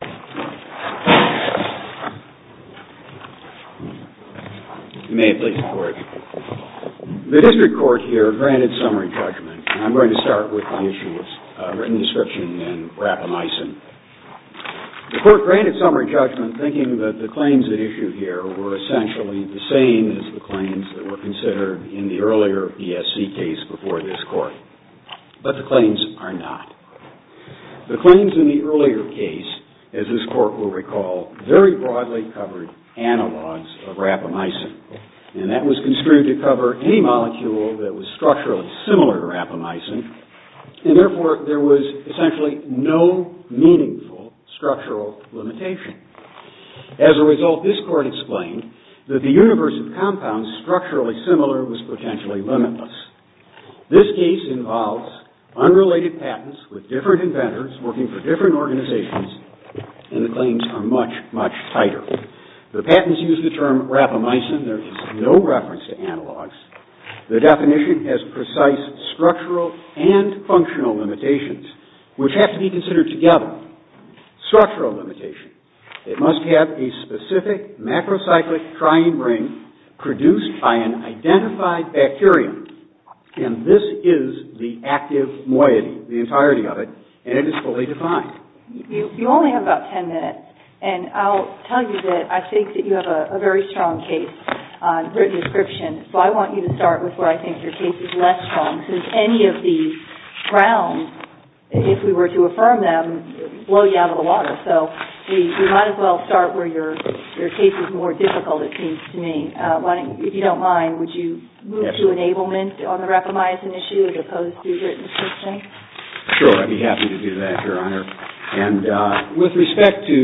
The District Court here granted summary judgment thinking that the claims at issue here were essentially the same as the claims that were considered in the earlier ESC case before this court. But the claims are not. The claims in the earlier case, as this court will recall, very broadly covered analogs of rapamycin, and that was construed to cover any molecule that was structurally similar to rapamycin, and therefore there was essentially no meaningful structural limitation. As a result, this court explained that the universe of compounds structurally similar was potentially limitless. This case involves unrelated patents with different inventors working for different organizations, and the claims are much, much tighter. The patents use the term rapamycin, there is no reference to analogs. The definition has precise structural and functional limitations, which have to be considered together. Structural limitation, it must have a specific macrocyclic triene ring produced by an identified bacterium, and this is the active moiety, the entirety of it, and it is fully defined. You only have about 10 minutes, and I'll tell you that I think that you have a very strong case on written description, so I want you to start with where I think your case is less strong, because any of these grounds, if we were to affirm them, would blow you out of the water. So you might as well start where your case is more difficult, it seems to me. If you don't mind, would you move to enablement on the rapamycin issue as opposed to written description? Sure, I'd be happy to do that, Your Honor. With respect to...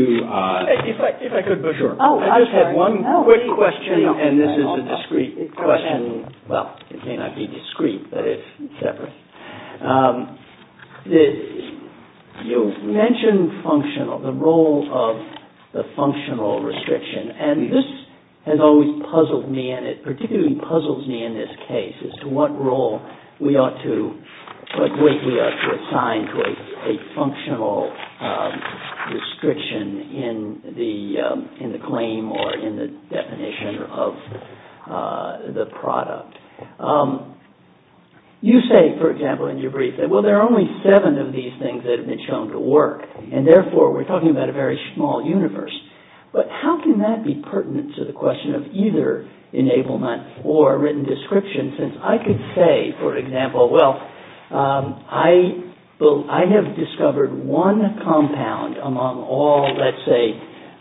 If I could... Sure. Oh, I'm sorry. I just had one quick question, and this is a discreet question. Well, it may not be discreet, but it's separate. You mentioned functional, the role of the functional restriction, and this has always puzzled me, and it particularly puzzles me in this case as to what role we ought to, what weight we ought to assign to a functional restriction in the claim or in the definition of the product. You say, for example, in your brief that, well, there are only seven of these things that have been shown to work, and therefore we're talking about a very small universe. But how can that be pertinent to the question of either enablement or written description, since I could say, for example, well, I have discovered one compound among all, let's say,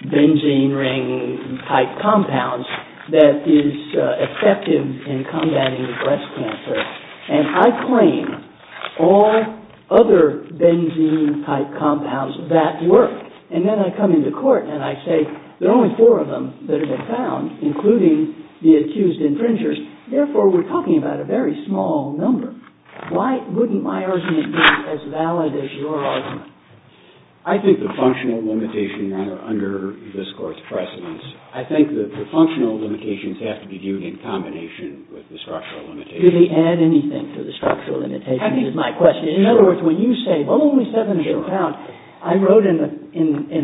benzene ring-type compounds that is effective in combating breast cancer, and I claim all other benzene-type compounds that work. And then I come into court and I say, there are only four of them that have been found, including the accused infringers, therefore we're talking about a very small number. Why wouldn't my argument be as valid as your argument? I think the functional limitations are under this court's precedence. I think the functional limitations have to be viewed in combination with the structural limitations. Do they add anything to the structural limitations is my question. In other words, when you say, well, only seven of these compounds, I wrote in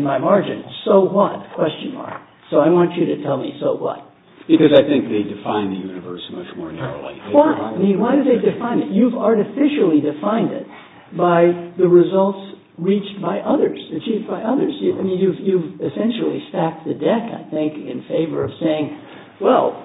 my margin, so what, question mark. So I want you to tell me, so what. Because I think they define the universe much more narrowly. Why do they define it? You've artificially defined it by the results reached by others, achieved by others. I mean, you've essentially stacked the deck, I think, in favor of saying, well,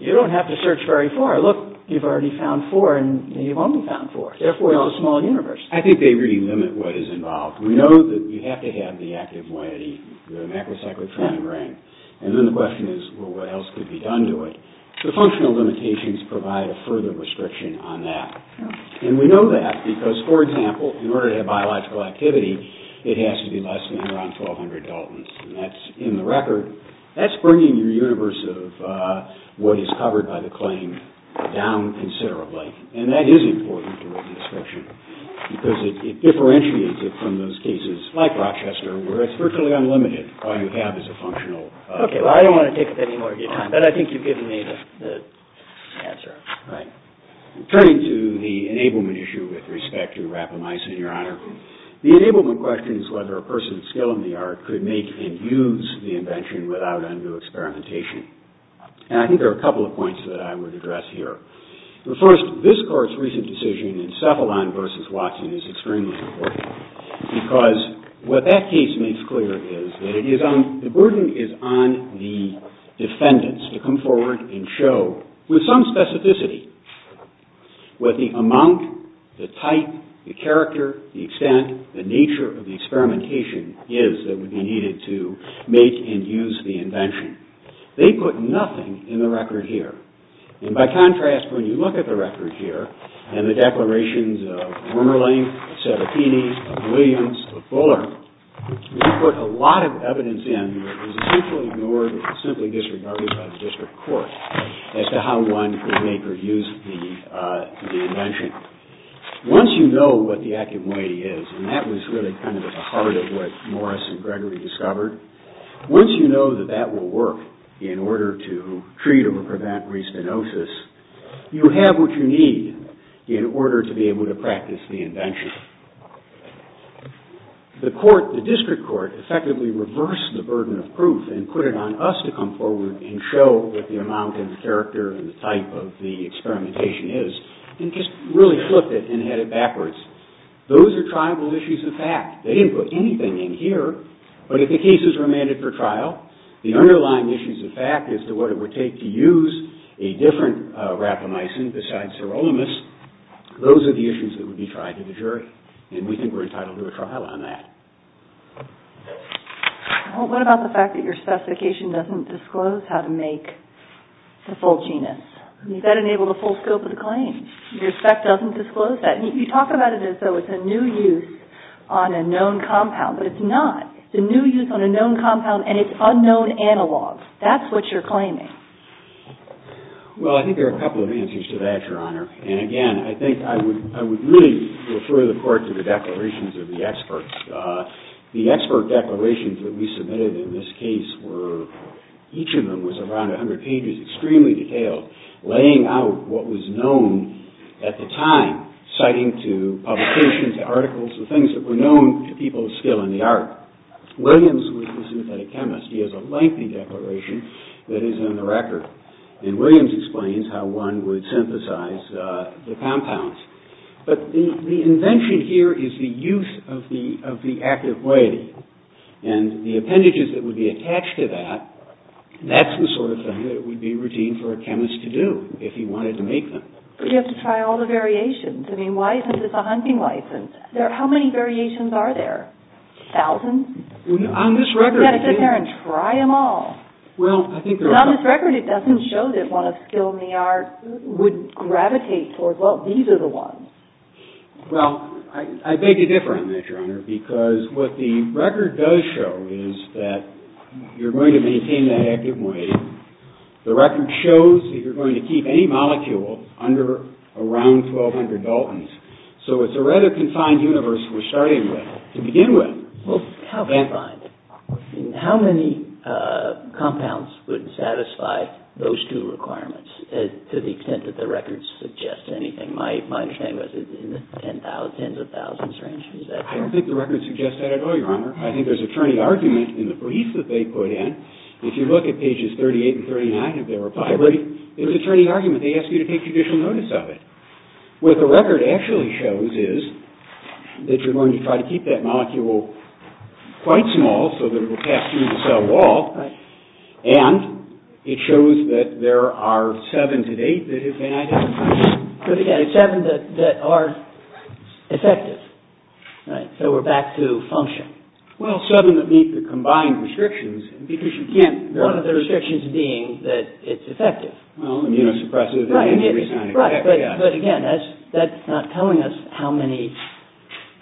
you don't have to search very far. Look, you've already found four, and you've only found four. Therefore, it's a small universe. I think they really limit what is involved. We know that you have to have the active moiety, the macrocyclic trigonogram, and then the question is, well, what else could be done to it? So functional limitations provide a further restriction on that. And we know that because, for example, in order to have biological activity, it has to be less than around 1,200 Daltons. And that's in the record. That's bringing your universe of what is covered by the claim down considerably. And that is important to written description because it differentiates it from those cases like Rochester, where it's virtually unlimited. All you have is a functional. Okay, well, I don't want to take up any more of your time, but I think you've given me the answer. Right. Turning to the enablement issue with respect to rapamycin, Your Honor, the enablement question is whether a person's skill in the art could make and use the invention without undue experimentation. And I think there are a couple of points that I would address here. First, this court's recent decision in Cephalon versus Watson is extremely important because what that case makes clear is that the burden is on the defendants to come forward and show, with some specificity, what the amount, the type, the character, the extent, the nature of the experimentation is that would be needed to make and use the invention. They put nothing in the record here. And by contrast, when you look at the record here and the declarations of Wormerling, of Serafini, of Williams, of Fuller, they put a lot of evidence in that was essentially ignored and simply disregarded by the district court as to how one could make or use the invention. Once you know what the active moiety is, and that was really kind of at the heart of what Morris and Gregory discovered, once you know that that will work in order to treat or prevent the invention. The court, the district court, effectively reversed the burden of proof and put it on us to come forward and show what the amount and the character and the type of the experimentation is, and just really flipped it and had it backwards. Those are tribal issues of fact. They didn't put anything in here, but if the cases were amended for trial, the underlying issues of fact as to what it would take to use a different rapamycin besides sirolimus, those are the issues that would be tried in the jury, and we think we're entitled to a trial on that. Well, what about the fact that your specification doesn't disclose how to make the full genus? Does that enable the full scope of the claim? Your spec doesn't disclose that. You talk about it as though it's a new use on a known compound, but it's not. It's a new use on a known compound, and it's unknown analog. That's what you're claiming. Well, I think there are a couple of answers to that, Your Honor, and again, I think I would really refer the court to the declarations of the experts. The expert declarations that we submitted in this case were, each of them was around 100 pages, extremely detailed, laying out what was known at the time, citing to publications, to articles, the things that were known to people still in the art. Williams was a synthetic chemist. He has a lengthy declaration that is on the record, and Williams explains how one would synthesize the compounds. But the invention here is the use of the active quality, and the appendages that would be attached to that, that's the sort of thing that would be routine for a chemist to do if he wanted to make them. But you have to try all the variations. I mean, why isn't this a hunting license? How many variations are there? Thousands? Well, on this record... You've got to sit there and try them all. Well, I think there are... But on this record, it doesn't show that one of still in the art would gravitate towards, well, these are the ones. Well, I beg to differ on that, Your Honor, because what the record does show is that you're going to maintain that active moiety. The record shows that you're going to keep any molecule under around 1,200 Daltons, so it's a rather confined universe we're starting with. To begin with. Well, how confined? How many compounds would satisfy those two requirements to the extent that the record suggests anything? My understanding was in the tens of thousands range. Is that correct? I don't think the record suggests that at all, Your Honor. I think there's attorney argument in the brief that they put in. If you look at pages 38 and 39 of their reply brief, there's attorney argument. They ask you to take judicial notice of it. What the record actually shows is that you're going to try to keep that molecule quite small so that it will pass through the cell wall, and it shows that there are seven to eight that have been identified. But again, seven that are effective. So we're back to function. Well, seven that meet the combined restrictions, because you can't... One of the restrictions being that it's effective. Right, but again, that's not telling us how many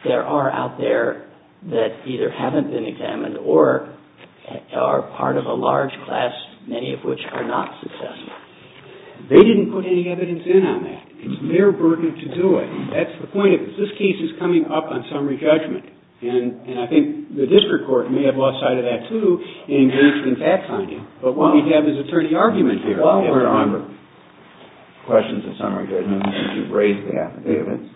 there are out there that either haven't been examined or are part of a large class, many of which are not successful. They didn't put any evidence in on that. It's their burden to do it. That's the point of it. This case is coming up on summary judgment. And I think the district court may have lost sight of that, too, and engaged in fact-finding. But what we have is attorney argument here. Well, remember, questions of summary judgment, and you've raised that evidence.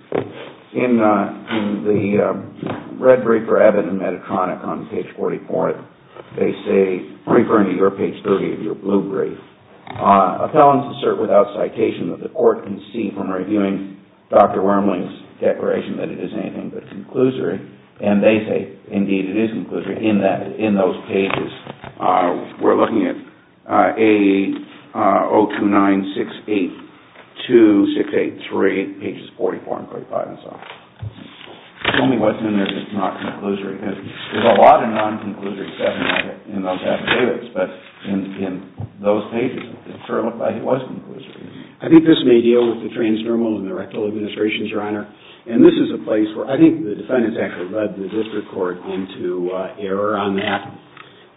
In the red brief for Abbott and Medtronic on page 44, they say, referring to your page 30, your blue brief, appellants assert without citation that the court can see from reviewing Dr. Wormley's declaration that it is anything but conclusory. And they say, indeed, it is conclusory in those pages. We're looking at 029682683, pages 44 and 45 and so on. Tell me what's in there that's not conclusory. Because there's a lot of non-conclusory stuff in those affidavits. But in those pages, it sure looked like it was conclusory. I think this may deal with the transnormals and the rectal administrations, Your Honor. And this is a place where I think the defendants actually led the district court into error on that,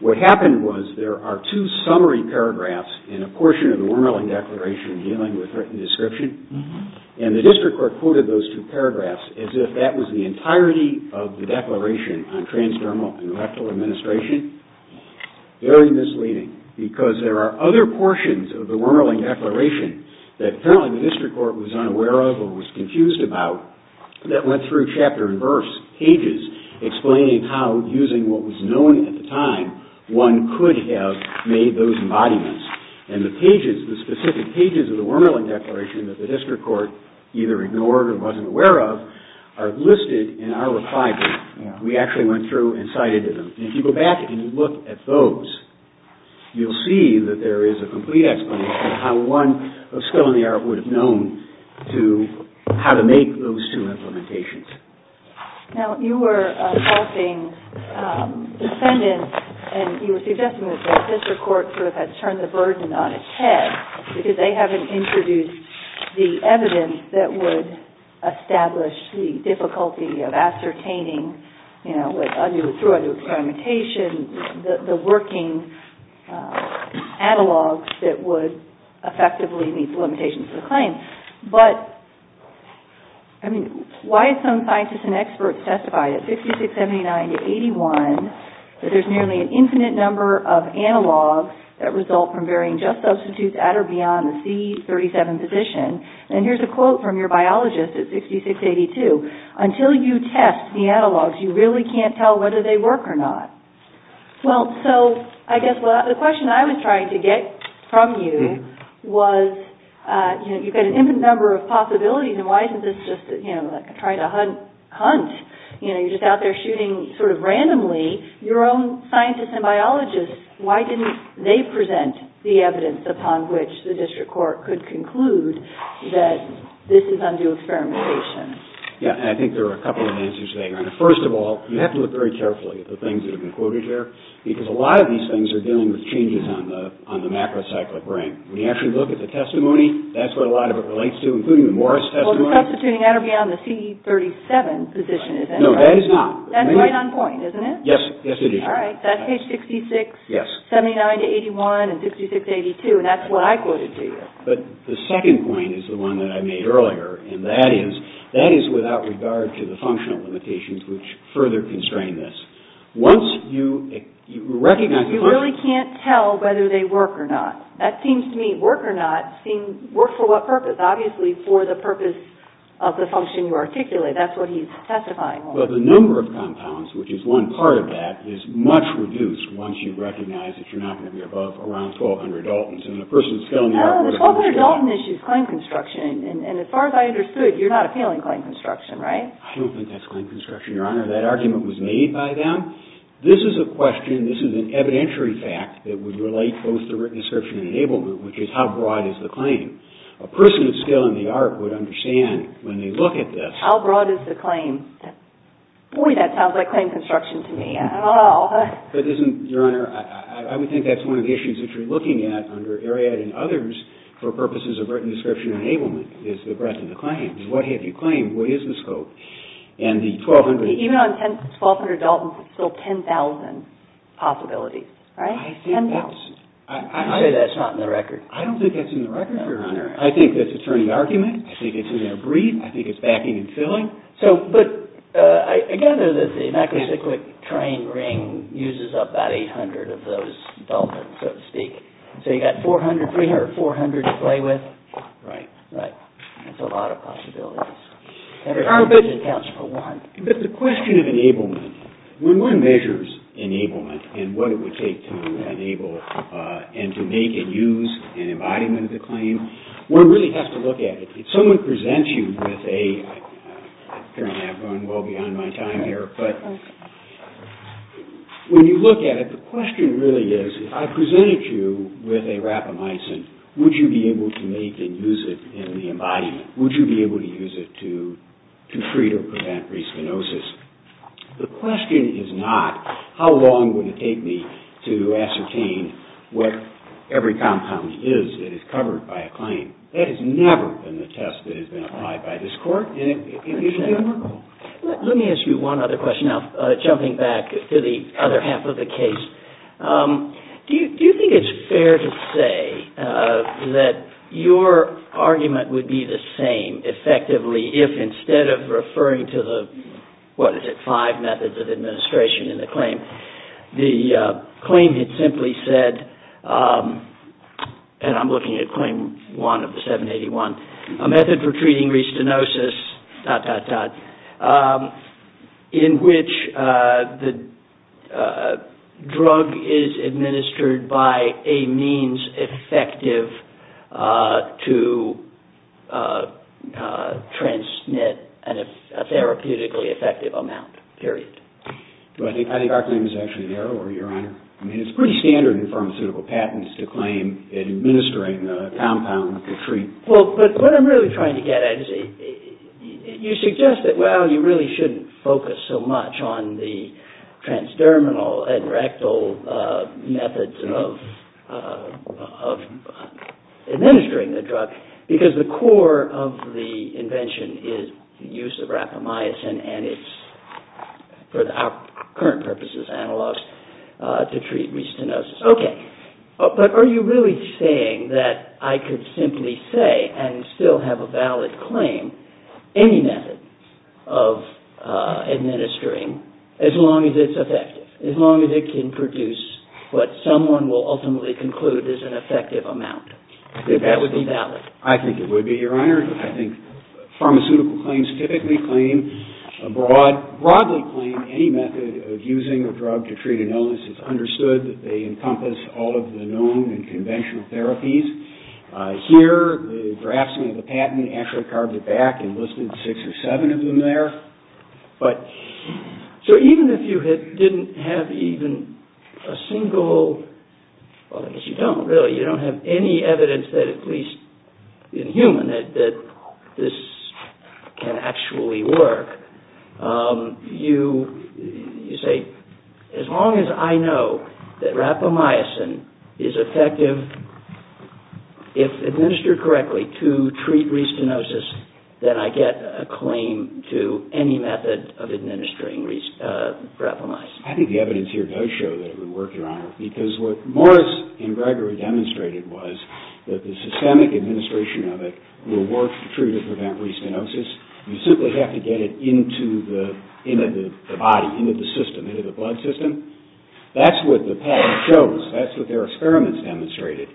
what happened was there are two summary paragraphs in a portion of the Wormerling Declaration dealing with written description. And the district court quoted those two paragraphs as if that was the entirety of the declaration on transnormal and rectal administration. Very misleading, because there are other portions of the Wormerling Declaration that apparently the district court was unaware of or was confused about that went through chapter and verse pages explaining how, using what was known at the time, one could have made those embodiments. And the pages, the specific pages of the Wormerling Declaration that the district court either ignored or wasn't aware of are listed in our reply book. We actually went through and cited them. And if you go back and you look at those, you'll see that there is a complete explanation of how one of skill and the art would have known how to make those two implementations. Now, you were assaulting defendants and you were suggesting that the district court sort of had turned the burden on its head because they haven't introduced the evidence that would establish the difficulty of ascertaining, you know, through other experimentation, the working analogs that would effectively meet the limitations of the claim. But, I mean, why have some scientists and experts testified at 66, 79 to 81 that there's nearly an infinite number of analogs that result from varying just substitutes at or beyond the C37 position? And here's a quote from your biologist at 66, 82. Until you test the analogs, you really can't tell whether they work or not. Well, so I guess the question I was trying to get from you was, you know, you've got an infinite number of possibilities and why isn't this just, you know, like a try to hunt? You know, you're just out there shooting sort of randomly your own scientists and biologists. Why didn't they present the evidence upon which the district court could conclude that this is undue experimentation? Yeah, and I think there are a couple of answers there. First of all, you have to look very carefully at the things that have been quoted here because a lot of these things are dealing with changes on the macrocyclic brain. When you actually look at the testimony, that's what a lot of it relates to, including the Morris testimony. Well, substituting at or beyond the C37 position, is that right? No, that is not. That's right on point, isn't it? Yes, it is. All right, that's page 66, 79 to 81, and 66 to 82, and that's what I quoted to you. But the second point is the one that I made earlier, and that is, that is without regard to the functional limitations which further constrain this. Once you recognize... You really can't tell whether they work or not. That seems to me, work or not, work for what purpose? Obviously, for the purpose of the function you articulate. That's what he's testifying on. But the number of compounds, which is one part of that, is much reduced once you recognize that you're not going to be above around 1,200 Altons. The 1,200 Alton issue is claim construction, and as far as I understood, you're not appealing claim construction, right? I don't think that's claim construction, Your Honor. That argument was made by them. This is a question, this is an evidentiary fact that would relate both to written assertion and enablement, which is how broad is the claim? A person with skill in the art would understand when they look at this... How broad is the claim? Boy, that sounds like claim construction to me. But isn't, Your Honor, I would think that's one of the issues that you're looking at under Ariadne and others for purposes of written description and enablement, is the breadth of the claim. What have you claimed? What is the scope? And the 1,200... Even on 1,200 Altons, it's still 10,000 possibilities, right? 10,000. I'd say that's not in the record. I don't think that's in the record, Your Honor. I think that's a turning argument. I think it's in their breed. I think it's backing and filling. So, but I gather that the Necrosyclic train ring uses up about 800 of those Altons, so to speak. So, you've got 300 or 400 to play with? Right. Right. That's a lot of possibilities. And it counts for one. But the question of enablement, when one measures enablement and what it would take to enable and to make and use an embodiment of the claim, one really has to look at it. If someone presents you with a... Apparently I've gone well beyond my time here, but when you look at it, the question really is, if I presented you with a rapamycin, would you be able to make and use it in the embodiment? Would you be able to use it to treat or prevent respinosis? The question is not, how long would it take me to ascertain what every compound is that is covered by a claim? That has never been the test that has been applied by this court. Let me ask you one other question now, jumping back to the other half of the case. Do you think it's fair to say that your argument would be the same effectively if instead of referring to the, what is it, five methods of administration in the claim, the claim had simply said, and I'm looking at claim one of the 781, a method for treating respinosis dot dot dot, in which the drug is administered by a means effective to transmit a therapeutically effective amount, period. I think our claim is actually narrower, Your Honor. I mean, it's pretty standard in pharmaceutical patents to claim administering a compound to treat. Well, but what I'm really trying to get at is, you suggest that, well, you really shouldn't focus so much on the transdermal and rectal methods of administering the drug, because the core of the invention is the use of rapamycin, and it's, for our current purposes, analogs, to treat respinosis. Okay. But are you really saying that I could simply say, and still have a valid claim, any method of administering, as long as it's effective, as long as it can produce what someone will ultimately conclude is an effective amount, that that would be valid? I think it would be, Your Honor. I think pharmaceutical claims typically claim, broadly claim, any method of using a drug to treat an illness. It's understood that they encompass all of the known and conventional therapies. Here, the draftsman of the patent actually carved it back and listed six or seven of them there. But, so even if you didn't have even a single, well, I guess you don't, really. You don't have any evidence that, at least in human, that this can actually work. You say, as long as I know that rapamycin is effective, if administered correctly, to treat respinosis, then I get a claim to any method of administering rapamycin. I think the evidence here does show that it would work, Your Honor, because what Morris and Gregory demonstrated was that the systemic administration of it will work to treat or prevent respinosis. You simply have to get it into the body, into the system, into the blood system. That's what the patent shows. That's what their experiments demonstrated.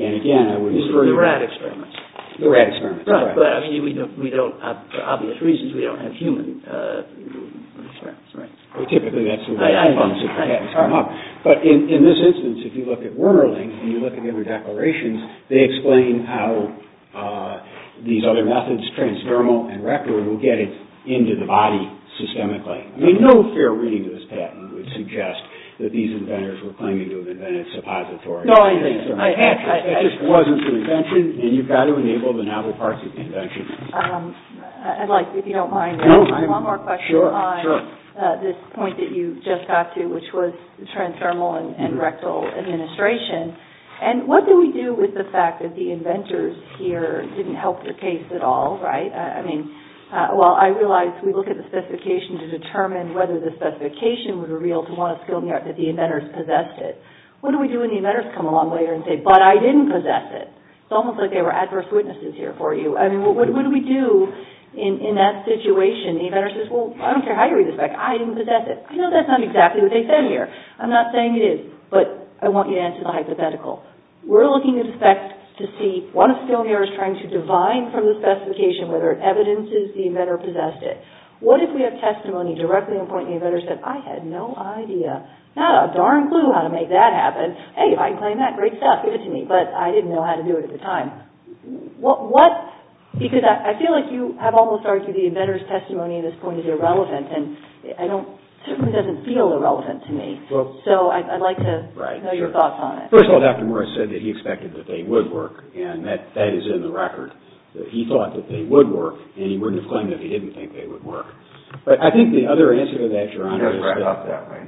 And, again, I wouldn't disagree. The rat experiments. The rat experiments. Right. But, I mean, we don't, for obvious reasons, we don't have human experiments. Right. Typically, that's the way the patents come up. But, in this instance, if you look at Wernerling and you look at the other declarations, they explain how these other methods, transdermal and rectal, will get it into the body systemically. I mean, no fair reading of this patent would suggest that these inventors were claiming to have invented suppository. No, I didn't. It just wasn't the invention, and you've got to enable the novel parts of the invention. I'd like, if you don't mind, one more question on this point that you just got to, which was transdermal and rectal administration. And, what do we do with the fact that the inventors here didn't help the case at all? Right? I mean, well, I realize we look at the specification to determine whether the specification would have revealed to one of the skilled in the art that the inventors possessed it. What do we do when the inventors come along later and say, but I didn't possess it? It's almost like they were adverse witnesses here for you. I mean, what do we do in that situation? The inventor says, well, I don't care how you read this back. I didn't possess it. I know that's not exactly what they said here. I'm not saying it is, but I want you to answer the hypothetical. We're looking at the facts to see, one of the skilled in the art is trying to divine from the specification whether it evidences the inventor possessed it. What if we have testimony directly on the point the inventor said, I had no idea, not a darn clue how to make that happen. Hey, if I can claim that, great stuff. Give it to me. But, I didn't know how to do it at the time. What, because I feel like you have almost argued the inventor's testimony at this point is irrelevant, and I don't, certainly doesn't feel irrelevant to me. So, I'd like to know your thoughts on it. First of all, Dr. Morris said that he expected that they would work, and that is in the record. That he thought that they would work, and he wouldn't have claimed that he didn't think they would work. But, I think the other answer to that, Your Honor, is that He doesn't wrap it up that way.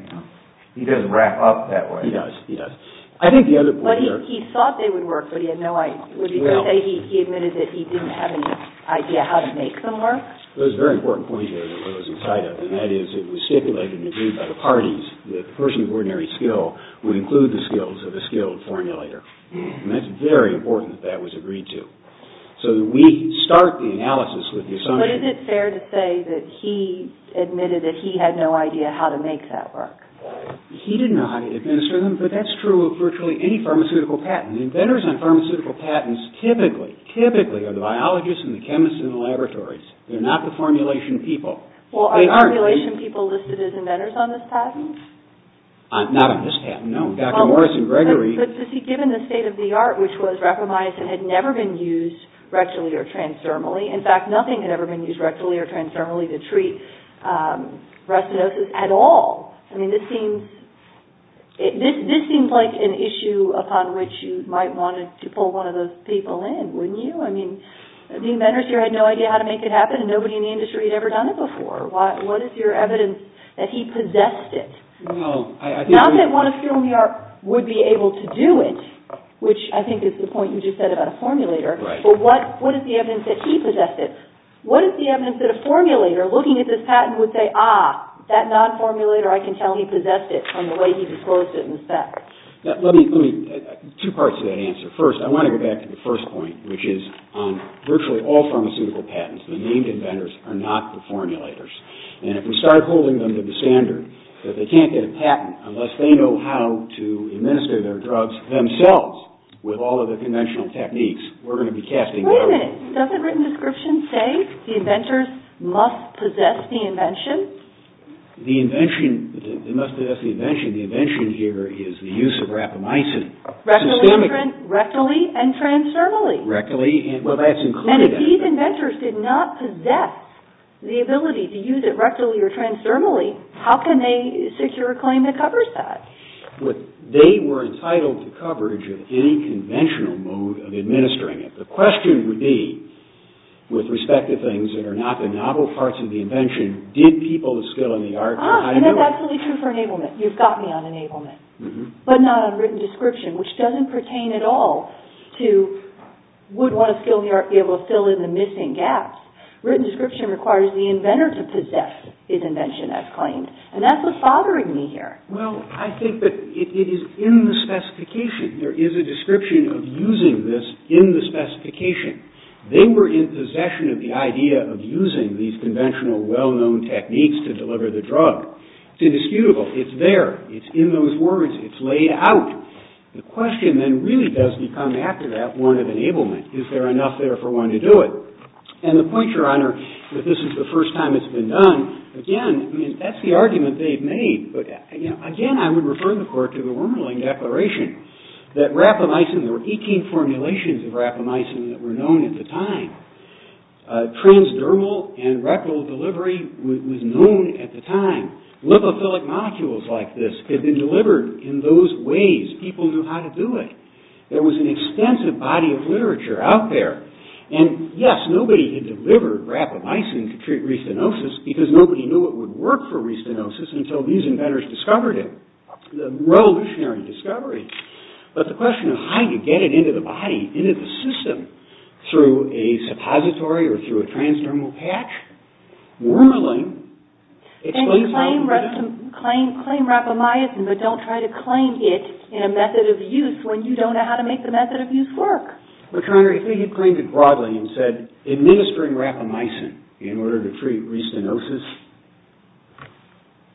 He doesn't wrap up that way. He does, he does. I think the other point here But, he thought they would work, but he had no idea. Would you say he admitted that he didn't have any idea how to make them work? There's a very important point here that I wasn't quite of, and that is it was stipulated and agreed by the parties that the person of ordinary skill would include the skills of a skilled formulator. And, that's very important that that was agreed to. So, we start the analysis with the assumption But, is it fair to say that he admitted that he had no idea how to make that work? He didn't know how to administer them, but that's true of virtually any pharmaceutical patent. Inventors on pharmaceutical patents typically, typically are the biologists and the chemists in the laboratories. They're not the formulation people. Well, are formulation people listed as inventors on this patent? Not on this patent, no. Dr. Morrison-Gregory But, given the state of the art, which was reprimised and had never been used rectally or transdermally. In fact, nothing had ever been used rectally or transdermally to treat restenosis at all. I mean, this seems, this seems like an issue upon which you might want to pull one of those people in, wouldn't you? I mean, the inventors here had no idea how to make it happen, and nobody in the industry had ever done it before. What is your evidence that he possessed it? Not that one of you would be able to do it, which I think is the point you just said about a formulator. But, what is the evidence that he possessed it? What is the evidence that a formulator, looking at this patent, would say, ah, that non-formulator, I can tell he possessed it from the way he disclosed it in the spec. Dr. Richard Morrison-Gregory Let me, let me, two parts to that answer. First, I want to go back to the first point, which is virtually all pharmaceutical patents, the named inventors are not the formulators. And if we start holding them to the standard that they can't get a patent unless they know how to administer their drugs themselves with all of the conventional techniques, we're going to be casting doubt. Wait a minute. Doesn't written description say the inventors must possess the invention? The invention, they must possess the invention. The invention here is the use of rapamycin. Rectally and transdermally. Rectally and, well, that's included. And if these inventors did not possess the ability to use it rectally or transdermally, how can they secure a claim that covers that? They were entitled to coverage of any conventional mode of administering it. The question would be, with respect to things that are not the novel parts of the invention, did people with skill in the arts know how to do it? Ah, and that's absolutely true for enablement. You've got me on enablement. But not on written description, which doesn't pertain at all to would one of skill in the arts be able to fill in the missing gaps. Written description requires the inventor to possess his invention as claimed. And that's what's bothering me here. Well, I think that it is in the specification. There is a description of using this in the specification. They were in possession of the idea of using these conventional well-known techniques to deliver the drug. It's indisputable. It's there. It's in those words. It's laid out. The question then really does become after that one of enablement. Is there enough there for one to do it? And the point, Your Honor, that this is the first time it's been done, again, I mean, that's the argument they've made. But again, I would refer the Court to the Wernerling Declaration, that rapamycin, there were 18 formulations of rapamycin that were known at the time. Transdermal and rectal delivery was known at the time. Lipophilic molecules like this had been delivered in those ways. People knew how to do it. There was an extensive body of literature out there. And yes, nobody had delivered rapamycin to treat restenosis because nobody knew it would work for restenosis until these inventors discovered it. A revolutionary discovery. But the question of how you get it into the body, into the system, through a suppository or through a transdermal patch? Wernerling explains how you get it. And claim rapamycin, but don't try to claim it in a method of use when you don't know how to make the method of use work. But, Your Honor, if they had claimed it broadly and said, administering rapamycin in order to treat restenosis,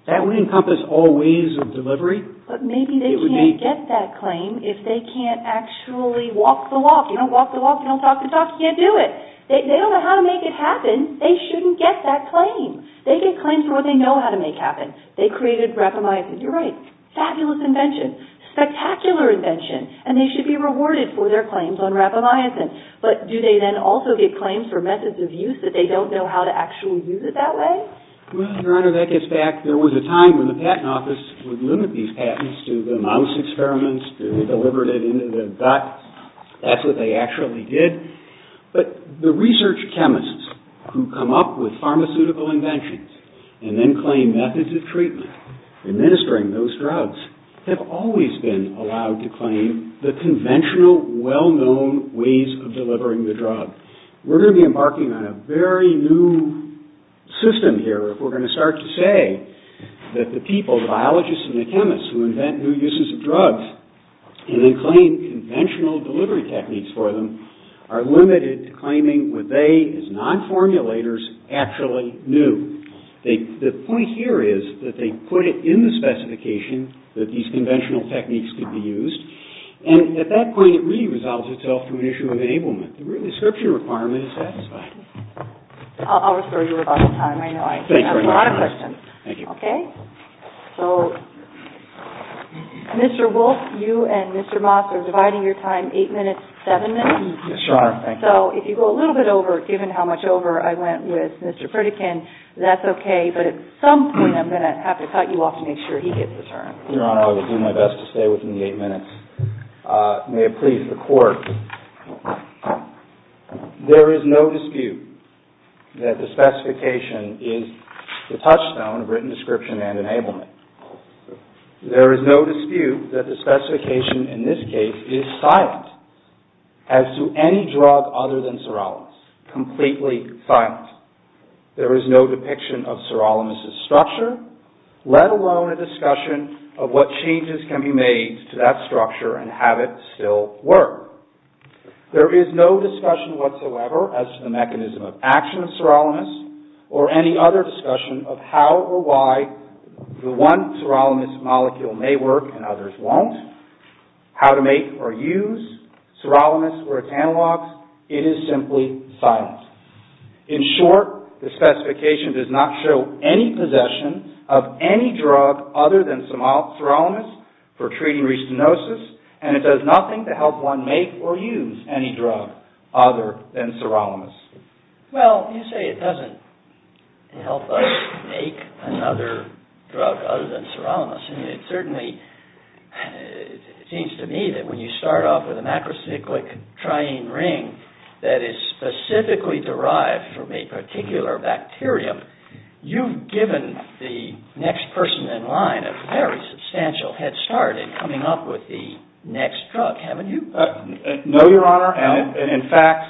that would encompass all ways of delivery. But maybe they can't get that claim if they can't actually walk the walk. You don't walk the walk, you don't talk the talk, you can't do it. They don't know how to make it happen. They shouldn't get that claim. They get claims for what they know how to make happen. They created rapamycin. You're right. Fabulous invention. Spectacular invention. And they should be rewarded for their claims on rapamycin. But do they then also get claims for methods of use that they don't know how to actually use it that way? Well, Your Honor, that gets back. There was a time when the patent office would limit these patents to the mouse experiments to deliver it into the gut. That's what they actually did. But the research chemists who come up with pharmaceutical inventions and then claim methods of treatment, administering those drugs, have always been allowed to claim the conventional well-known ways of delivering the drug. We're going to be embarking on a very new system here if we're going to start to say that the people, the biologists and the chemists who invent new uses of drugs and then claim conventional delivery techniques for them are limited to claiming what they, as non-formulators, actually knew. The point here is that they put it in the specification that these conventional techniques could be used. And at that point, it really resolves itself to an issue of enablement. The description requirement is satisfied. I'll refer you about the time. I know I can ask a lot of questions. Thank you. Okay? So, Mr. Wolf, you and Mr. Moss are dividing your time 8 minutes, 7 minutes. Yes, Your Honor. Thank you. So, if you go a little bit over, given how much over I went with Mr. Pritikin, that's okay. But at some point, I'm going to have to cut you off to make sure he gets the turn. Your Honor, I will do my best to stay within the 8 minutes. May it please the Court, there is no dispute that the specification is the touchstone of prescription description and enablement. There is no dispute that the specification in this case is silent, as to any drug other than sirolimus. Completely silent. There is no depiction of sirolimus' structure, let alone a discussion of what changes can be made to that structure and have it still work. There is no discussion whatsoever as to the mechanism of action of sirolimus, or any other the one sirolimus molecule may work and others won't, how to make or use sirolimus or its analogs. It is simply silent. In short, the specification does not show any possession of any drug other than sirolimus for treating restenosis, and it does nothing to help one make or use any drug other than sirolimus. Well, you say it doesn't help us make another drug other than sirolimus. It certainly seems to me that when you start off with a macrocyclic triene ring that is specifically derived from a particular bacterium, you've given the next person in line a very substantial head start in coming up with the next drug, haven't you? No, Your Honor. In fact,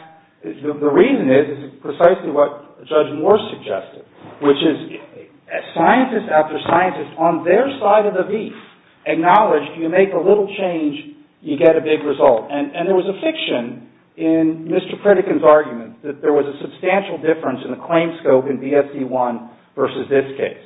the reason is precisely what Judge Moore suggested, which is scientists after scientists on their side of the beef acknowledge you make a little change, you get a big result. And there was a fiction in Mr. Pritikin's argument that there was a substantial difference in the claim scope in DSD1 versus this case,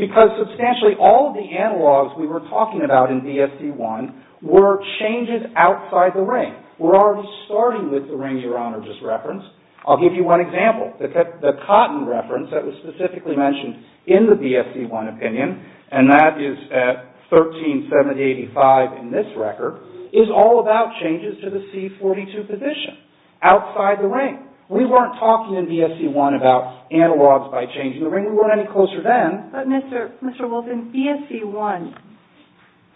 because substantially all of the analogs we were talking about in DSD1 were changes outside the ring. We're already starting with the ring Your Honor just referenced. I'll give you one example. The cotton reference that was specifically mentioned in the DSD1 opinion, and that is at 13785 in this record, is all about changes to the C42 position outside the ring. We weren't talking in DSD1 about analogs by changing the ring. We weren't any closer then. But Mr. Wolf, in DSD1,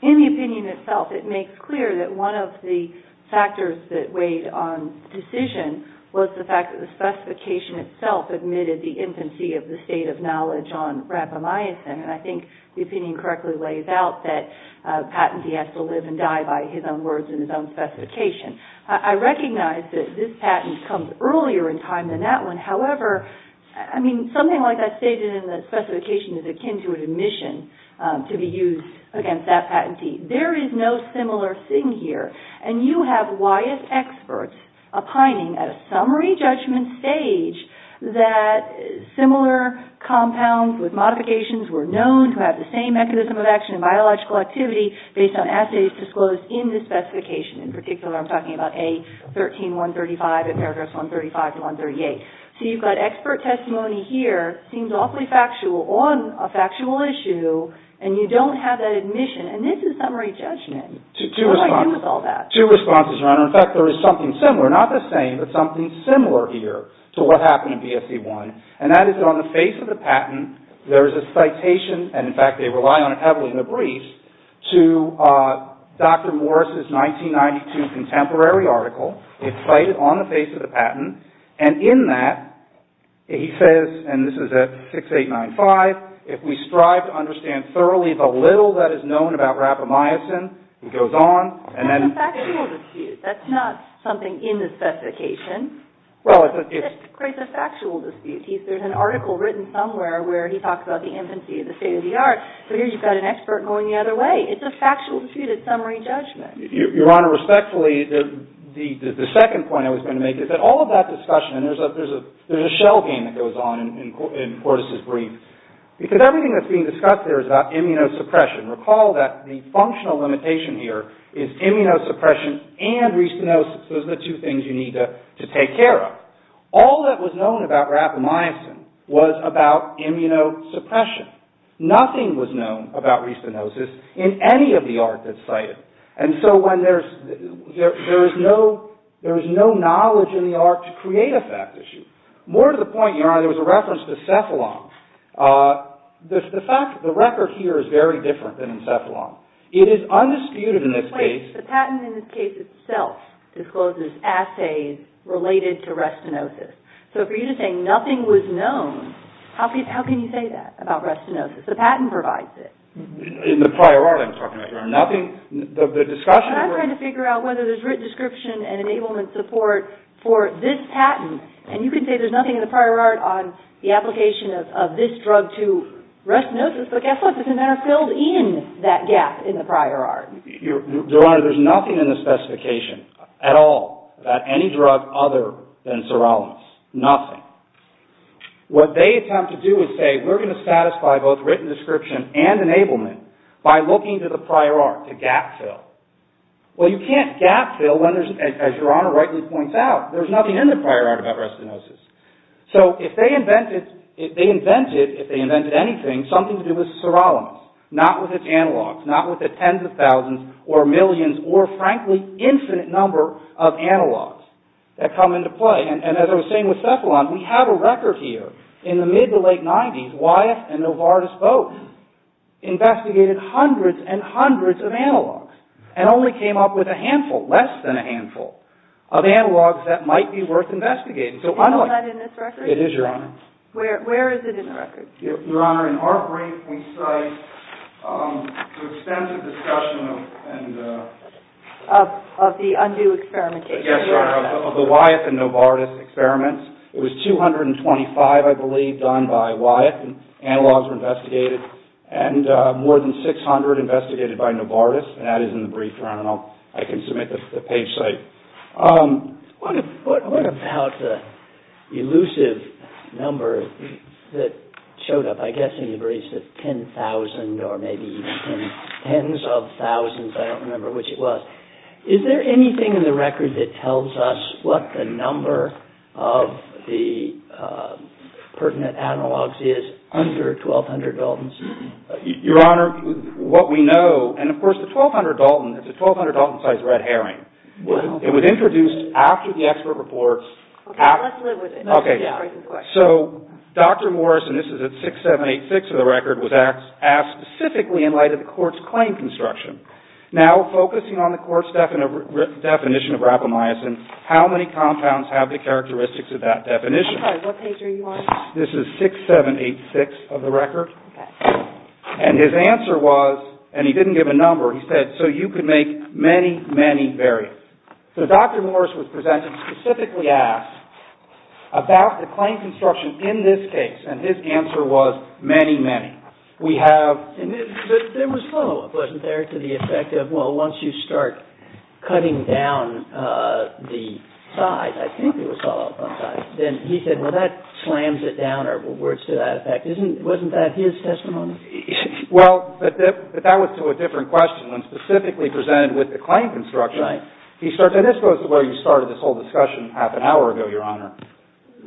in the opinion itself, it makes clear that one of the factors that weighed on the decision was the fact that the specification itself admitted the infancy of the state of knowledge on rapamycin. And I think the opinion correctly lays out that patentee has to live and die by his own words and his own specification. I recognize that this patent comes earlier in time than that one. However, I mean, something like I stated in the specification is akin to an admission to be used against that patentee. There is no similar thing here. And you have YS experts opining at a summary judgment stage that similar compounds with modifications were known to have the same mechanism of action and biological activity based on assays disclosed in the specification. In particular, I'm talking about A13-135 and Paragraph 135-138. So you've got expert testimony here. It seems awfully factual on a factual issue. And you don't have that admission. And this is summary judgment. What do I do with all that? Two responses, Your Honor. In fact, there is something similar. Not the same, but something similar here to what happened in DSD1. And that is that on the face of the patent, there is a citation, and in fact, they rely on it heavily in the briefs, to Dr. Morris' 1992 contemporary article. It's cited on the face of the patent. And in that, he says, and this is at 6895, if we strive to understand thoroughly the little that is known about rapamycin, he goes on, and then... That's a factual dispute. That's not something in the specification. Well, it's... It's a factual dispute. There's an article written somewhere where he talks about the infancy of the state of the art, but here you've got an expert going the other way. It's a factual dispute. It's summary judgment. Your Honor, respectfully, the second point I was going to make is that all of that discussion, and there's a shell game that goes on in Cortis' brief, because everything that's being discussed there is about immunosuppression. Recall that the functional limitation here is immunosuppression and restenosis. Those are the two things you need to take care of. All that was known about rapamycin was about immunosuppression. Nothing was known about restenosis in any of the art that's cited. And so when there's... There is no knowledge in the art to create a fact issue. More to the point, Your Honor, there was a reference to cephalon. The fact... The record here is very different than in cephalon. It is undisputed in this case... Wait. The patent in this case itself discloses assays related to restenosis. So for you to say nothing was known, how can you say that about restenosis? The patent provides it. In the prior art I'm talking about, Your Honor, nothing... The discussion... I'm trying to figure out whether there's written description and enablement support for this patent. And you can say there's nothing in the prior art on the application of this drug to restenosis, but guess what? There's a matter filled in that gap in the prior art. Your Honor, there's nothing in the specification at all about any drug other than sirolimus. Nothing. What they attempt to do is say we're going to satisfy both written description and enablement by looking to the prior art to gap fill. Well, you can't gap fill when there's, as Your Honor rightly points out, there's nothing in the prior art about restenosis. So if they invented, if they invented anything, something to do with sirolimus, not with its analogs, not with the tens of thousands or millions or, frankly, infinite number of analogs that come into play. And as I was saying with cephalon, we have a record here. In the mid to late 90s, Wyeth and Novartis both investigated hundreds and hundreds of analogs and only came up with a handful, less than a handful, of analogs that might be worth investigating. Is that in this record? It is, Your Honor. Where is it in the record? Your Honor, in our brief we cite the extensive discussion of... Of the undue experimentation. Yes, Your Honor, of the Wyeth and Novartis experiments. It was 225, I believe, done by Wyeth and analogs were investigated and more than 600 investigated by Novartis, and that is in the brief, Your Honor, and I can submit that to the page site. What about the elusive number that showed up, I guess in the brief, the 10,000 or maybe even tens of thousands, I don't remember which it was. Is there anything in the record that tells us what the number of the pertinent analogs is under 1,200 Daltons? Your Honor, what we know, and of course the 1,200 Dalton is a 1,200 Dalton-sized red herring. It was introduced after the expert reports... Okay, let's live with it. Okay, so Dr. Morrison, this is at 6786 of the record, was asked specifically in light of the court's claim construction. Now, focusing on the court's definition of rapamycin, how many compounds have the characteristics of that definition? Sorry, what page are you on? This is 6786 of the record, and his answer was, and he didn't give a number, he said, so you can make many, many variants. So Dr. Morrison was presented, specifically asked about the claim construction in this case, and his answer was, many, many. There was follow-up, wasn't there, to the effect of, well, once you start cutting down the size, I think it was follow-up on size, then he said, well, that slams it down, or words to that effect. Wasn't that his testimony? Well, but that was to a different question. When specifically presented with the claim construction, and this goes to where you started this whole discussion half an hour ago, Your Honor.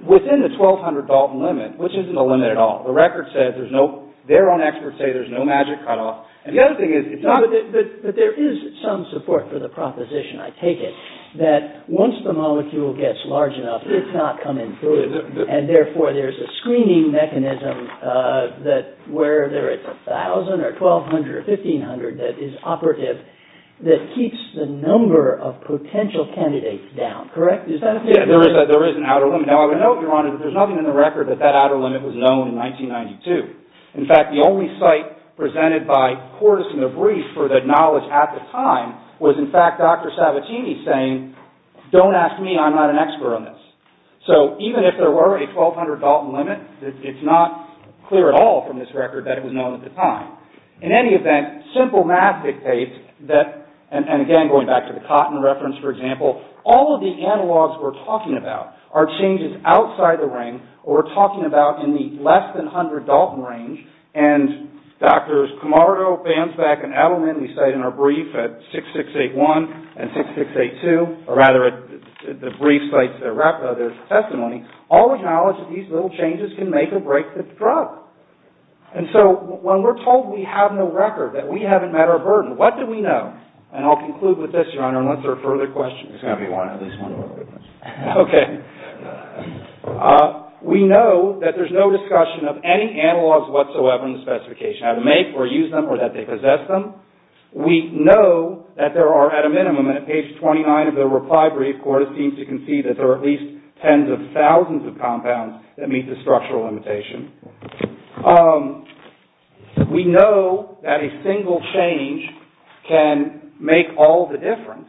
Within the 1200 Dalton limit, which isn't a limit at all, the record says there's no, their own experts say there's no magic cutoff. The other thing is, it's not... But there is some support for the proposition, I take it, that once the molecule gets large enough, it's not coming through, and therefore there's a screening mechanism that, where there is 1,000 or 1,200 or 1,500 that is operative, that keeps the number of potential candidates down. Correct? There is an outer limit. Now, I would note, Your Honor, that there's nothing in the record that that outer limit was known in 1992. In fact, the only site presented by Cordes and Debrief for the knowledge at the time was, in fact, Dr. Sabatini saying, don't ask me, I'm not an expert on this. So, even if there were a 1200 Dalton limit, it's not clear at all from this record that it was known at the time. In any event, simple math dictates that, and again, going back to the cotton reference, for example, all of the analogs we're talking about are changes outside the ring, or we're talking about in the less than 100 Dalton range, and Drs. Camardo, Bansback, and Adelman, we cite in our brief, at 6681 and 6682, or rather at the brief sites that wrap up their testimony, all acknowledge that these little changes can make or break the drug. And so, when we're told we have no record, that we haven't met our burden, what do we know? And I'll conclude with this, Your Honor, unless there are further questions. There's going to be one, at least one real quick one. Okay. We know that there's no discussion of any analogs whatsoever in the specification, how to make or use them, or that they possess them. We know that there are, at a minimum, and at page 29 of the reply brief, Cordes seems to concede that there are at least tens of thousands of compounds that meet the structural limitation. We know that a single change can make all the difference.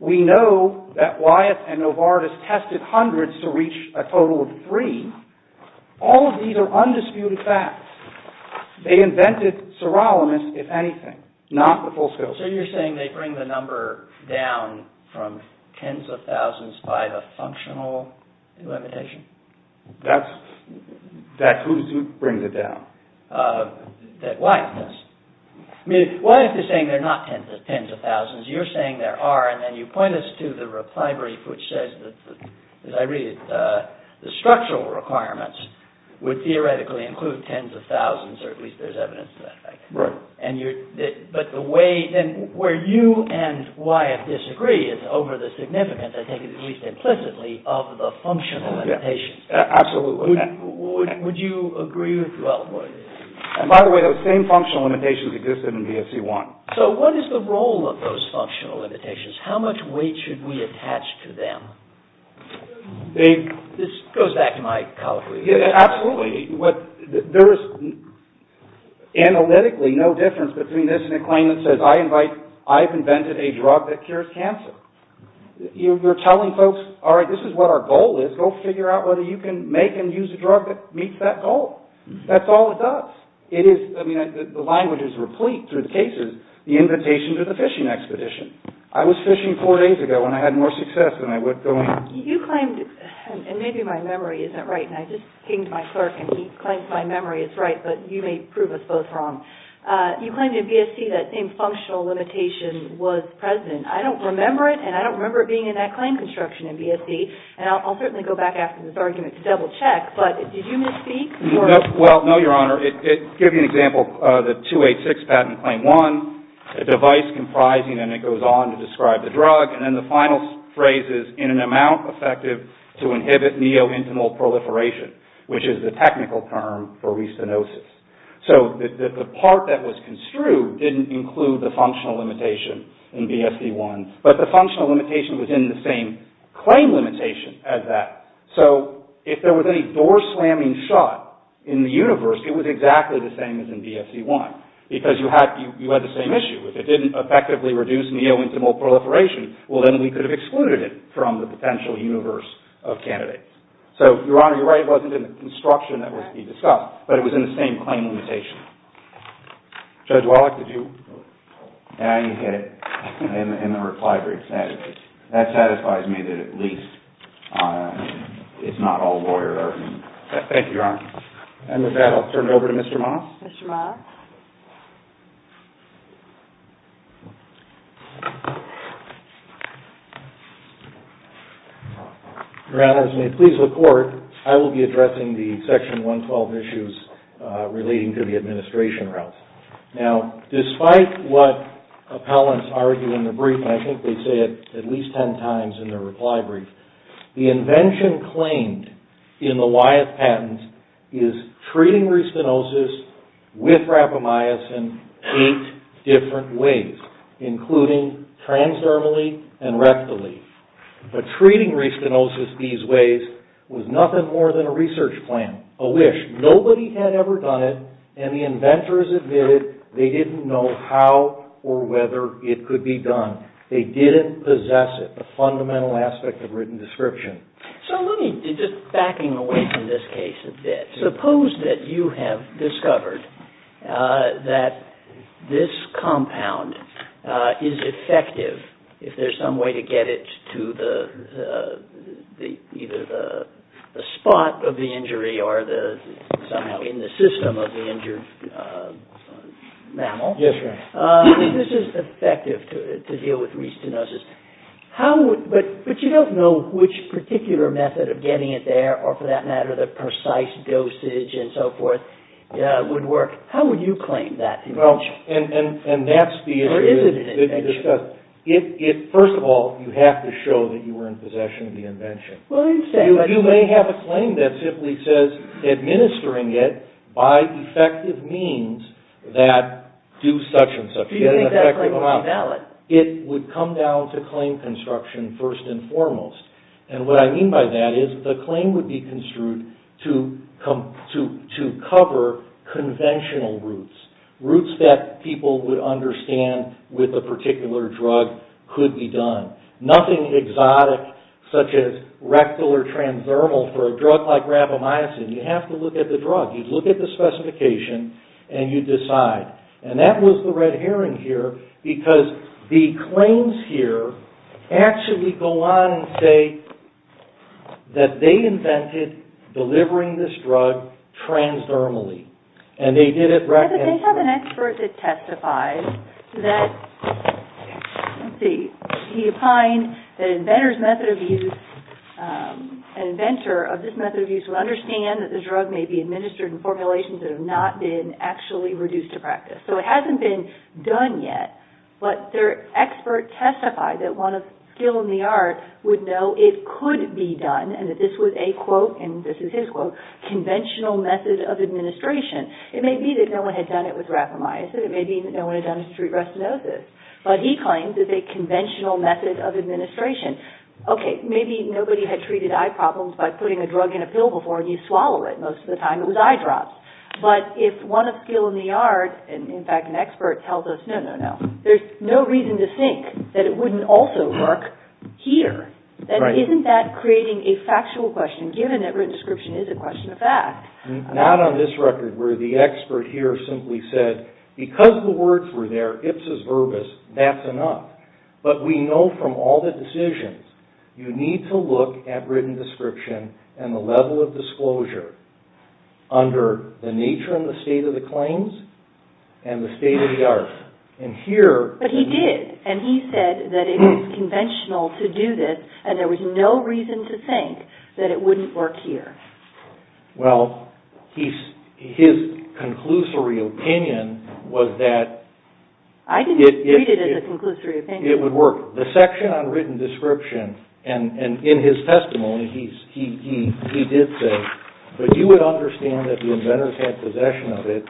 We know that Wyatt and Novartis tested hundreds to reach a total of three. All of these are undisputed facts. They invented sirolimus, if anything, not the full scale. So you're saying they bring the number down from tens of thousands by the functional limitation? That's who brings it down. Why is this? Wyatt is saying they're not tens of thousands. You're saying there are, and then you point us to the reply brief, which says that, as I read it, the structural requirements would theoretically include tens of thousands, or at least there's evidence of that. Right. But the way, where you and Wyatt disagree is over the significance, I take it at least implicitly, of the functional limitations. Absolutely. Would you agree with that? By the way, those same functional limitations existed in BSC-1. So what is the role of those functional limitations? How much weight should we attach to them? This goes back to my colleague. Absolutely. There is analytically no difference between this and a claim that says, I've invented a drug that cures cancer. You're telling folks, all right, this is what our goal is. Go figure out whether you can make and use a drug that meets that goal. That's all it does. The language is replete through the cases, the invitation to the fishing expedition. I was fishing four days ago, and I had more success than I was going. You claimed, and maybe my memory isn't right, and I just pinged my clerk, and he claims my memory is right, but you may prove us both wrong. You claimed in BSC that same functional limitation was present. I don't remember it, and I don't remember it being in that claim construction in BSC, and I'll certainly go back after this argument to double-check, but did you misspeak? Well, no, Your Honor. To give you an example, the 286 patent claim one, a device comprising, and it goes on to describe the drug, and then the final phrase is, in an amount effective to inhibit neo-intimal proliferation, which is the technical term for restenosis. So the part that was construed didn't include the functional limitation in BSC one, but the functional limitation was in the same claim limitation as that. So if there was any door-slamming shot in the universe, it was exactly the same as in BSC one, because you had the same issue. If it didn't effectively reduce neo-intimal proliferation, well, then we could have excluded it from the potential universe of candidates. So, Your Honor, you're right. It wasn't in the construction that was to be discussed, but it was in the same claim limitation. Judge Wallach, did you? Yeah, you hit it in the reply brief. That satisfies me that at least it's not all lawyer-driven. Thank you, Your Honor. And with that, I'll turn it over to Mr. Moss. Mr. Moss. Your Honor, as you may please look forward, I will be addressing the Section 112 issues relating to the administration routes. Now, despite what appellants argue in the brief, and I think they say it at least ten times in their reply brief, the invention claimed in the Wyeth patents is treating respinosus with rapamycin eight different ways, including transdermally and rectally. But treating respinosus these ways was nothing more than a research plan, a wish. Nobody had ever done it, and the inventors admitted they didn't know how or whether it could be done. They didn't possess it, the fundamental aspect of written description. So let me, just backing away from this case a bit, suppose that you have discovered that this compound is effective if there's some way to get it to either the spot of the injury or somehow in the system of the injured mammal. Yes, Your Honor. This is effective to deal with respinosus. But you don't know which particular method of getting it there or for that matter the precise dosage and so forth would work. How would you claim that invention? And that's the issue that you discussed. First of all, you have to show that you were in possession of the invention. You may have a claim that simply says by effective means that do such and such. Do you think that claim would be valid? It would come down to claim construction first and foremost. And what I mean by that is the claim would be construed to cover conventional roots. Roots that people would understand with a particular drug could be done. Nothing exotic such as rectal or transdermal for a drug like rabomycin. You have to look at the drug. You look at the specification and you decide. And that was the red herring here because the claims here actually go on and say that they invented delivering this drug transdermally. And they did it... But they have an expert that testifies that, let's see, he opined that an inventor of this method of use would understand that the drug may be administered in formulations that have not been actually reduced to practice. So it hasn't been done yet, but their expert testified that one of skill in the art would know it could be done and that this was a, quote, and this is his quote, conventional method of administration. It may be that no one had done it with rabomycin. It may be that no one had done it to treat retinosis. But he claims it's a conventional method of administration. Okay, maybe nobody had treated eye problems by putting a drug in a pill before and you swallow it. Most of the time it was eye drops. But if one of skill in the art, and in fact an expert, tells us no, no, no, there's no reason to think that it wouldn't also work here. Isn't that creating a factual question given that written description is a question of fact? Not on this record where the expert here simply said because the words were there, ipsis verbis, that's enough. But we know from all the decisions you need to look at written description and the level of disclosure under the nature and the state of the claims and the state of the art. And here... But he did, and he said that it was conventional to do this and there was no reason to think that it wouldn't work here. Well, his conclusory opinion was that... I didn't treat it as a conclusory opinion. It would work. The section on written description, and in his testimony he did say, but you would understand that the inventors had possession of it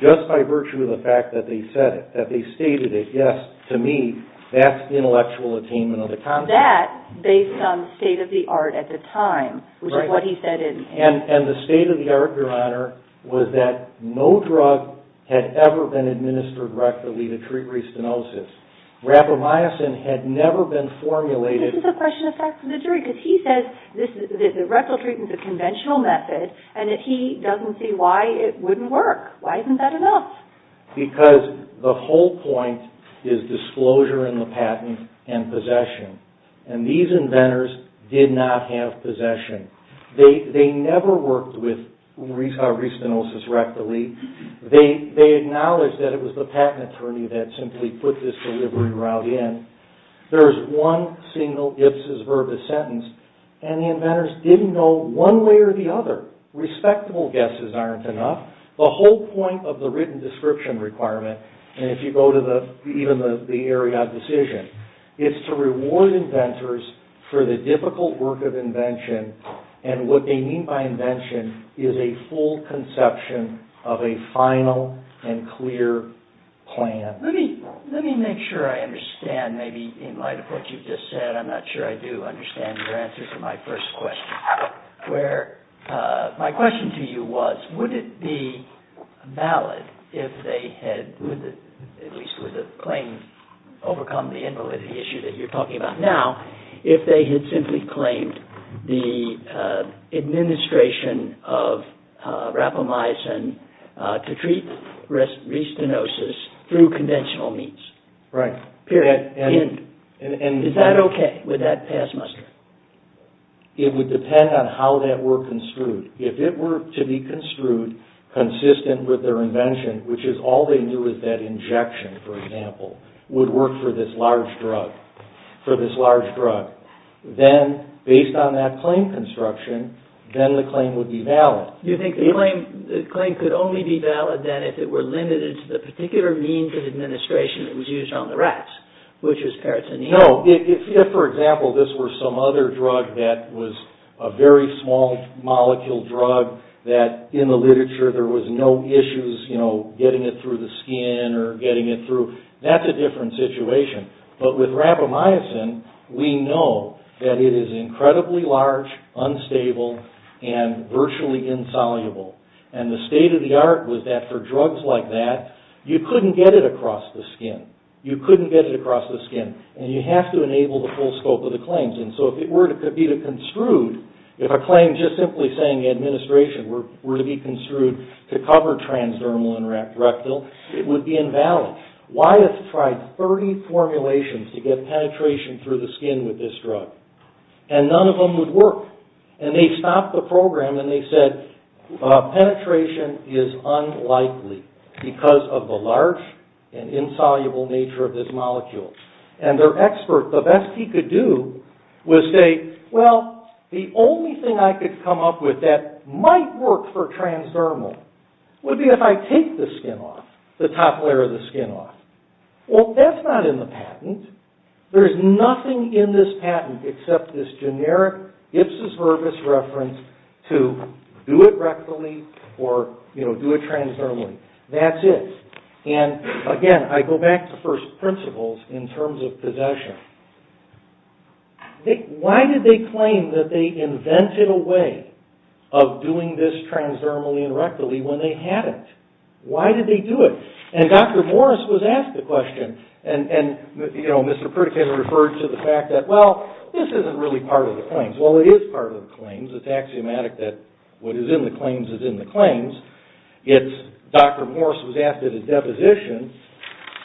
just by virtue of the fact that they said it, that they stated it. Yes, to me, that's intellectual attainment of the concept. That, based on the state of the art at the time, which is what he said in... And the state of the art, Your Honor, was that no drug had ever been administered rectally to treat restenosis. Rapamycin had never been formulated... This is a question of facts for the jury, because he says that the rectal treatment is a conventional method, and that he doesn't see why it wouldn't work. Why isn't that enough? Because the whole point is disclosure in the patent and possession. And these inventors did not have possession. They never worked with restenosis rectally. They acknowledged that it was the patent attorney that simply put this delivery route in. There is one single Ipsos verbus sentence, and the inventors didn't know one way or the other. Respectable guesses aren't enough. The whole point of the written description requirement, and if you go to even the area of decision, is to reward inventors for the difficult work of invention, and what they mean by invention is a full conception of a final and clear plan. Let me make sure I understand, maybe in light of what you've just said, I'm not sure I do understand your answer to my first question. My question to you was, would it be valid if they had, at least with the claim, overcome the invalidity issue that you're talking about now, if they had simply claimed the administration of rapamycin to treat restenosis through conventional means? Right. Period. Is that okay with that past muster? It would depend on how that were construed. If it were to be construed consistent with their invention, which is all they knew was that injection, for example, would work for this large drug, for this large drug, then, based on that claim construction, then the claim would be valid. Do you think the claim could only be valid then if it were limited to the particular means of administration that was used on the rats, which was peritoneal? No, if, for example, this were some other drug that was a very small molecule drug that in the literature there was no issues, you know, getting it through the skin or getting it through, that's a different situation. But with rapamycin, we know that it is incredibly large, unstable, and virtually insoluble. And the state of the art was that for drugs like that, you couldn't get it across the skin. You couldn't get it across the skin. And you have to enable the full scope of the claims. And so if it were to be construed, if a claim just simply saying administration were to be construed to cover transdermal and rectal, it would be invalid. Wyeth tried 30 formulations to get penetration through the skin with this drug. And none of them would work. And they stopped the program and they said, penetration is unlikely because of the large and insoluble nature of this molecule. And their expert, the best he could do, was say, well, the only thing I could come up with that might work for transdermal would be if I take the skin off, the top layer of the skin off. Well, that's not in the patent. There's nothing in this patent except this generic Ipsos-Virgus reference to do it rectally or do it transdermally. That's it. And again, I go back to first principles in terms of possession. Why did they claim that they invented a way of doing this transdermally and rectally when they hadn't? Why did they do it? And Dr. Morris was asked the question. And Mr. Pritikin referred to the fact that, well, this isn't really part of the claims. Well, it is part of the claims. It's axiomatic that what is in the claims is in the claims. Dr. Morris was asked at a deposition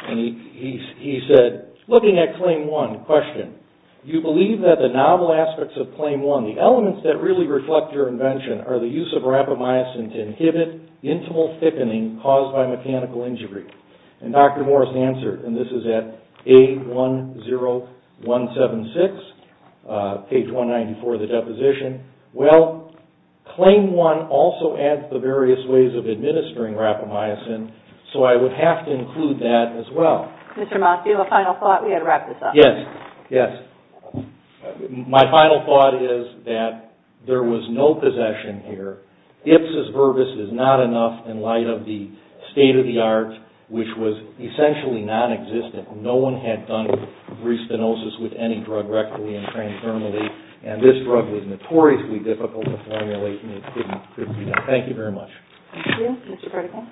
and he said, looking at claim one, question, you believe that the novel aspects of claim one, the elements that really reflect your invention, are the use of rapamycin to inhibit intimal thickening caused by mechanical injury. And Dr. Morris answered, and this is at A10176, page 194 of the deposition, well, claim one also adds the various ways of administering rapamycin, so I would have to include that as well. Mr. Moss, do you have a final thought? We've got to wrap this up. Yes. Yes. My final thought is that there was no possession here. Ipsis verbis is not enough in light of the state-of-the-art, which was essentially non-existent. No one had done respinosis with any drug rectally and transgerminally, and this drug was notoriously difficult to formulate and it couldn't be done. Thank you very much. Thank you. Mr. Pardico?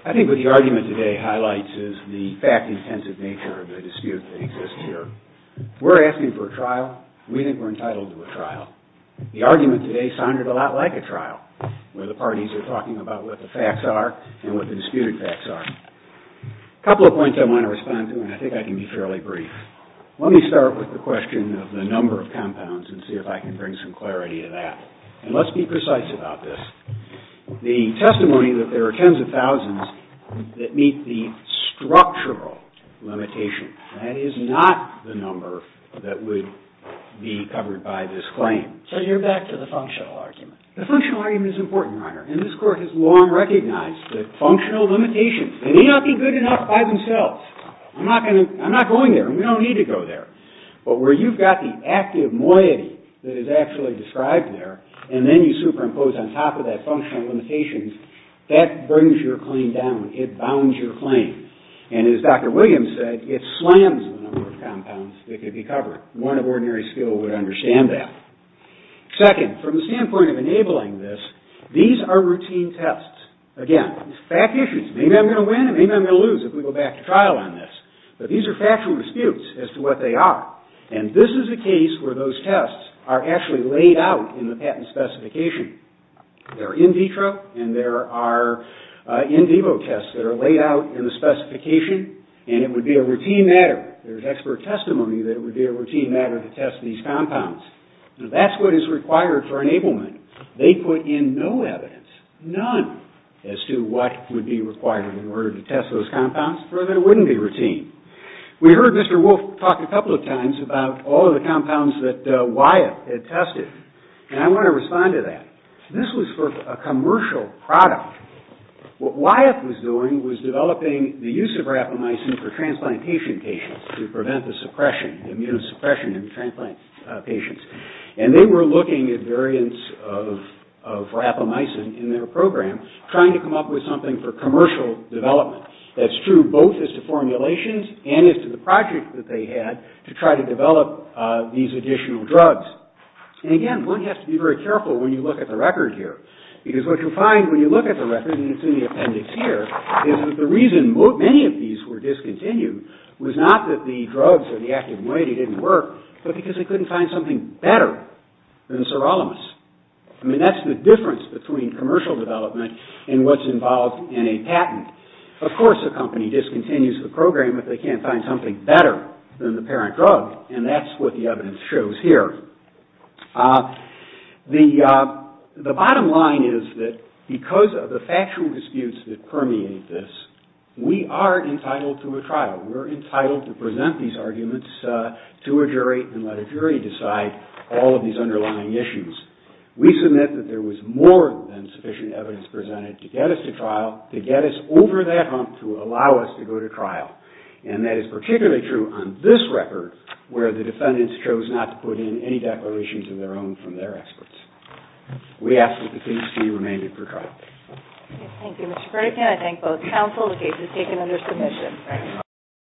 I think what the argument today highlights is the fact-intensive nature of the dispute that exists here. We're asking for a trial. We think we're entitled to a trial. The argument today sounded a lot like a trial, where the parties are talking about what the facts are and what the disputed facts are. A couple of points I want to respond to, and I think I can be fairly brief. Let me start with the question of the number of compounds and see if I can bring some clarity to that. And let's be precise about this. The testimony that there are tens of thousands that meet the structural limitation, that is not the number that would be covered by this claim. So you're back to the functional argument. The functional argument is important, Your Honor, and this Court has long recognized that functional limitations, they may not be good enough by themselves. I'm not going there. We don't need to go there. But where you've got the active moiety that is actually described there and then you superimpose on top of that functional limitations, that brings your claim down. It bounds your claim. And as Dr. Williams said, it slams the number of compounds that could be covered. One of ordinary skill would understand that. Second, from the standpoint of enabling this, these are routine tests. Again, it's fact issues. Maybe I'm going to win and maybe I'm going to lose if we go back to trial on this. But these are factual disputes as to what they are. And this is a case where those tests are actually laid out in the patent specification. They're in vitro and there are in vivo tests that are laid out in the specification and it would be a routine matter. There's expert testimony that it would be a routine matter to test these compounds. Now that's what is required for enablement. They put in no evidence, none, as to what would be required in order to test those compounds or that it wouldn't be routine. We heard Mr. Wolf talk a couple of times about all of the compounds that Wyeth had tested. And I want to respond to that. This was for a commercial product. What Wyeth was doing was developing the use of rapamycin for transplantation patients to prevent the immunosuppression in transplant patients. And they were looking at variants of rapamycin in their program trying to come up with something for commercial development. That's true both as to formulations and as to the project that they had to try to develop these additional drugs. And again, one has to be very careful when you look at the record here. Because what you'll find when you look at the record and it's in the appendix here is that the reason many of these were discontinued was not that the drugs or the active moiety didn't work, but because they couldn't find something better than sirolimus. I mean, that's the difference between commercial development and what's involved in a patent. Of course, the company discontinues the program if they can't find something better than the parent drug. And that's what the evidence shows here. The bottom line is that because of the factual disputes that permeate this, we are entitled to a trial. We're entitled to present these arguments to a jury and let a jury decide all of these underlying issues. We submit that there was more than sufficient evidence presented to get us to trial, to get us over that hump to allow us to go to trial. And that is particularly true on this record, where the defendants chose not to put in any declarations of their own from their experts. We ask that the case be remained for trial. Thank you, Mr. Burdekin. I thank both counsel and the case is taken under submission.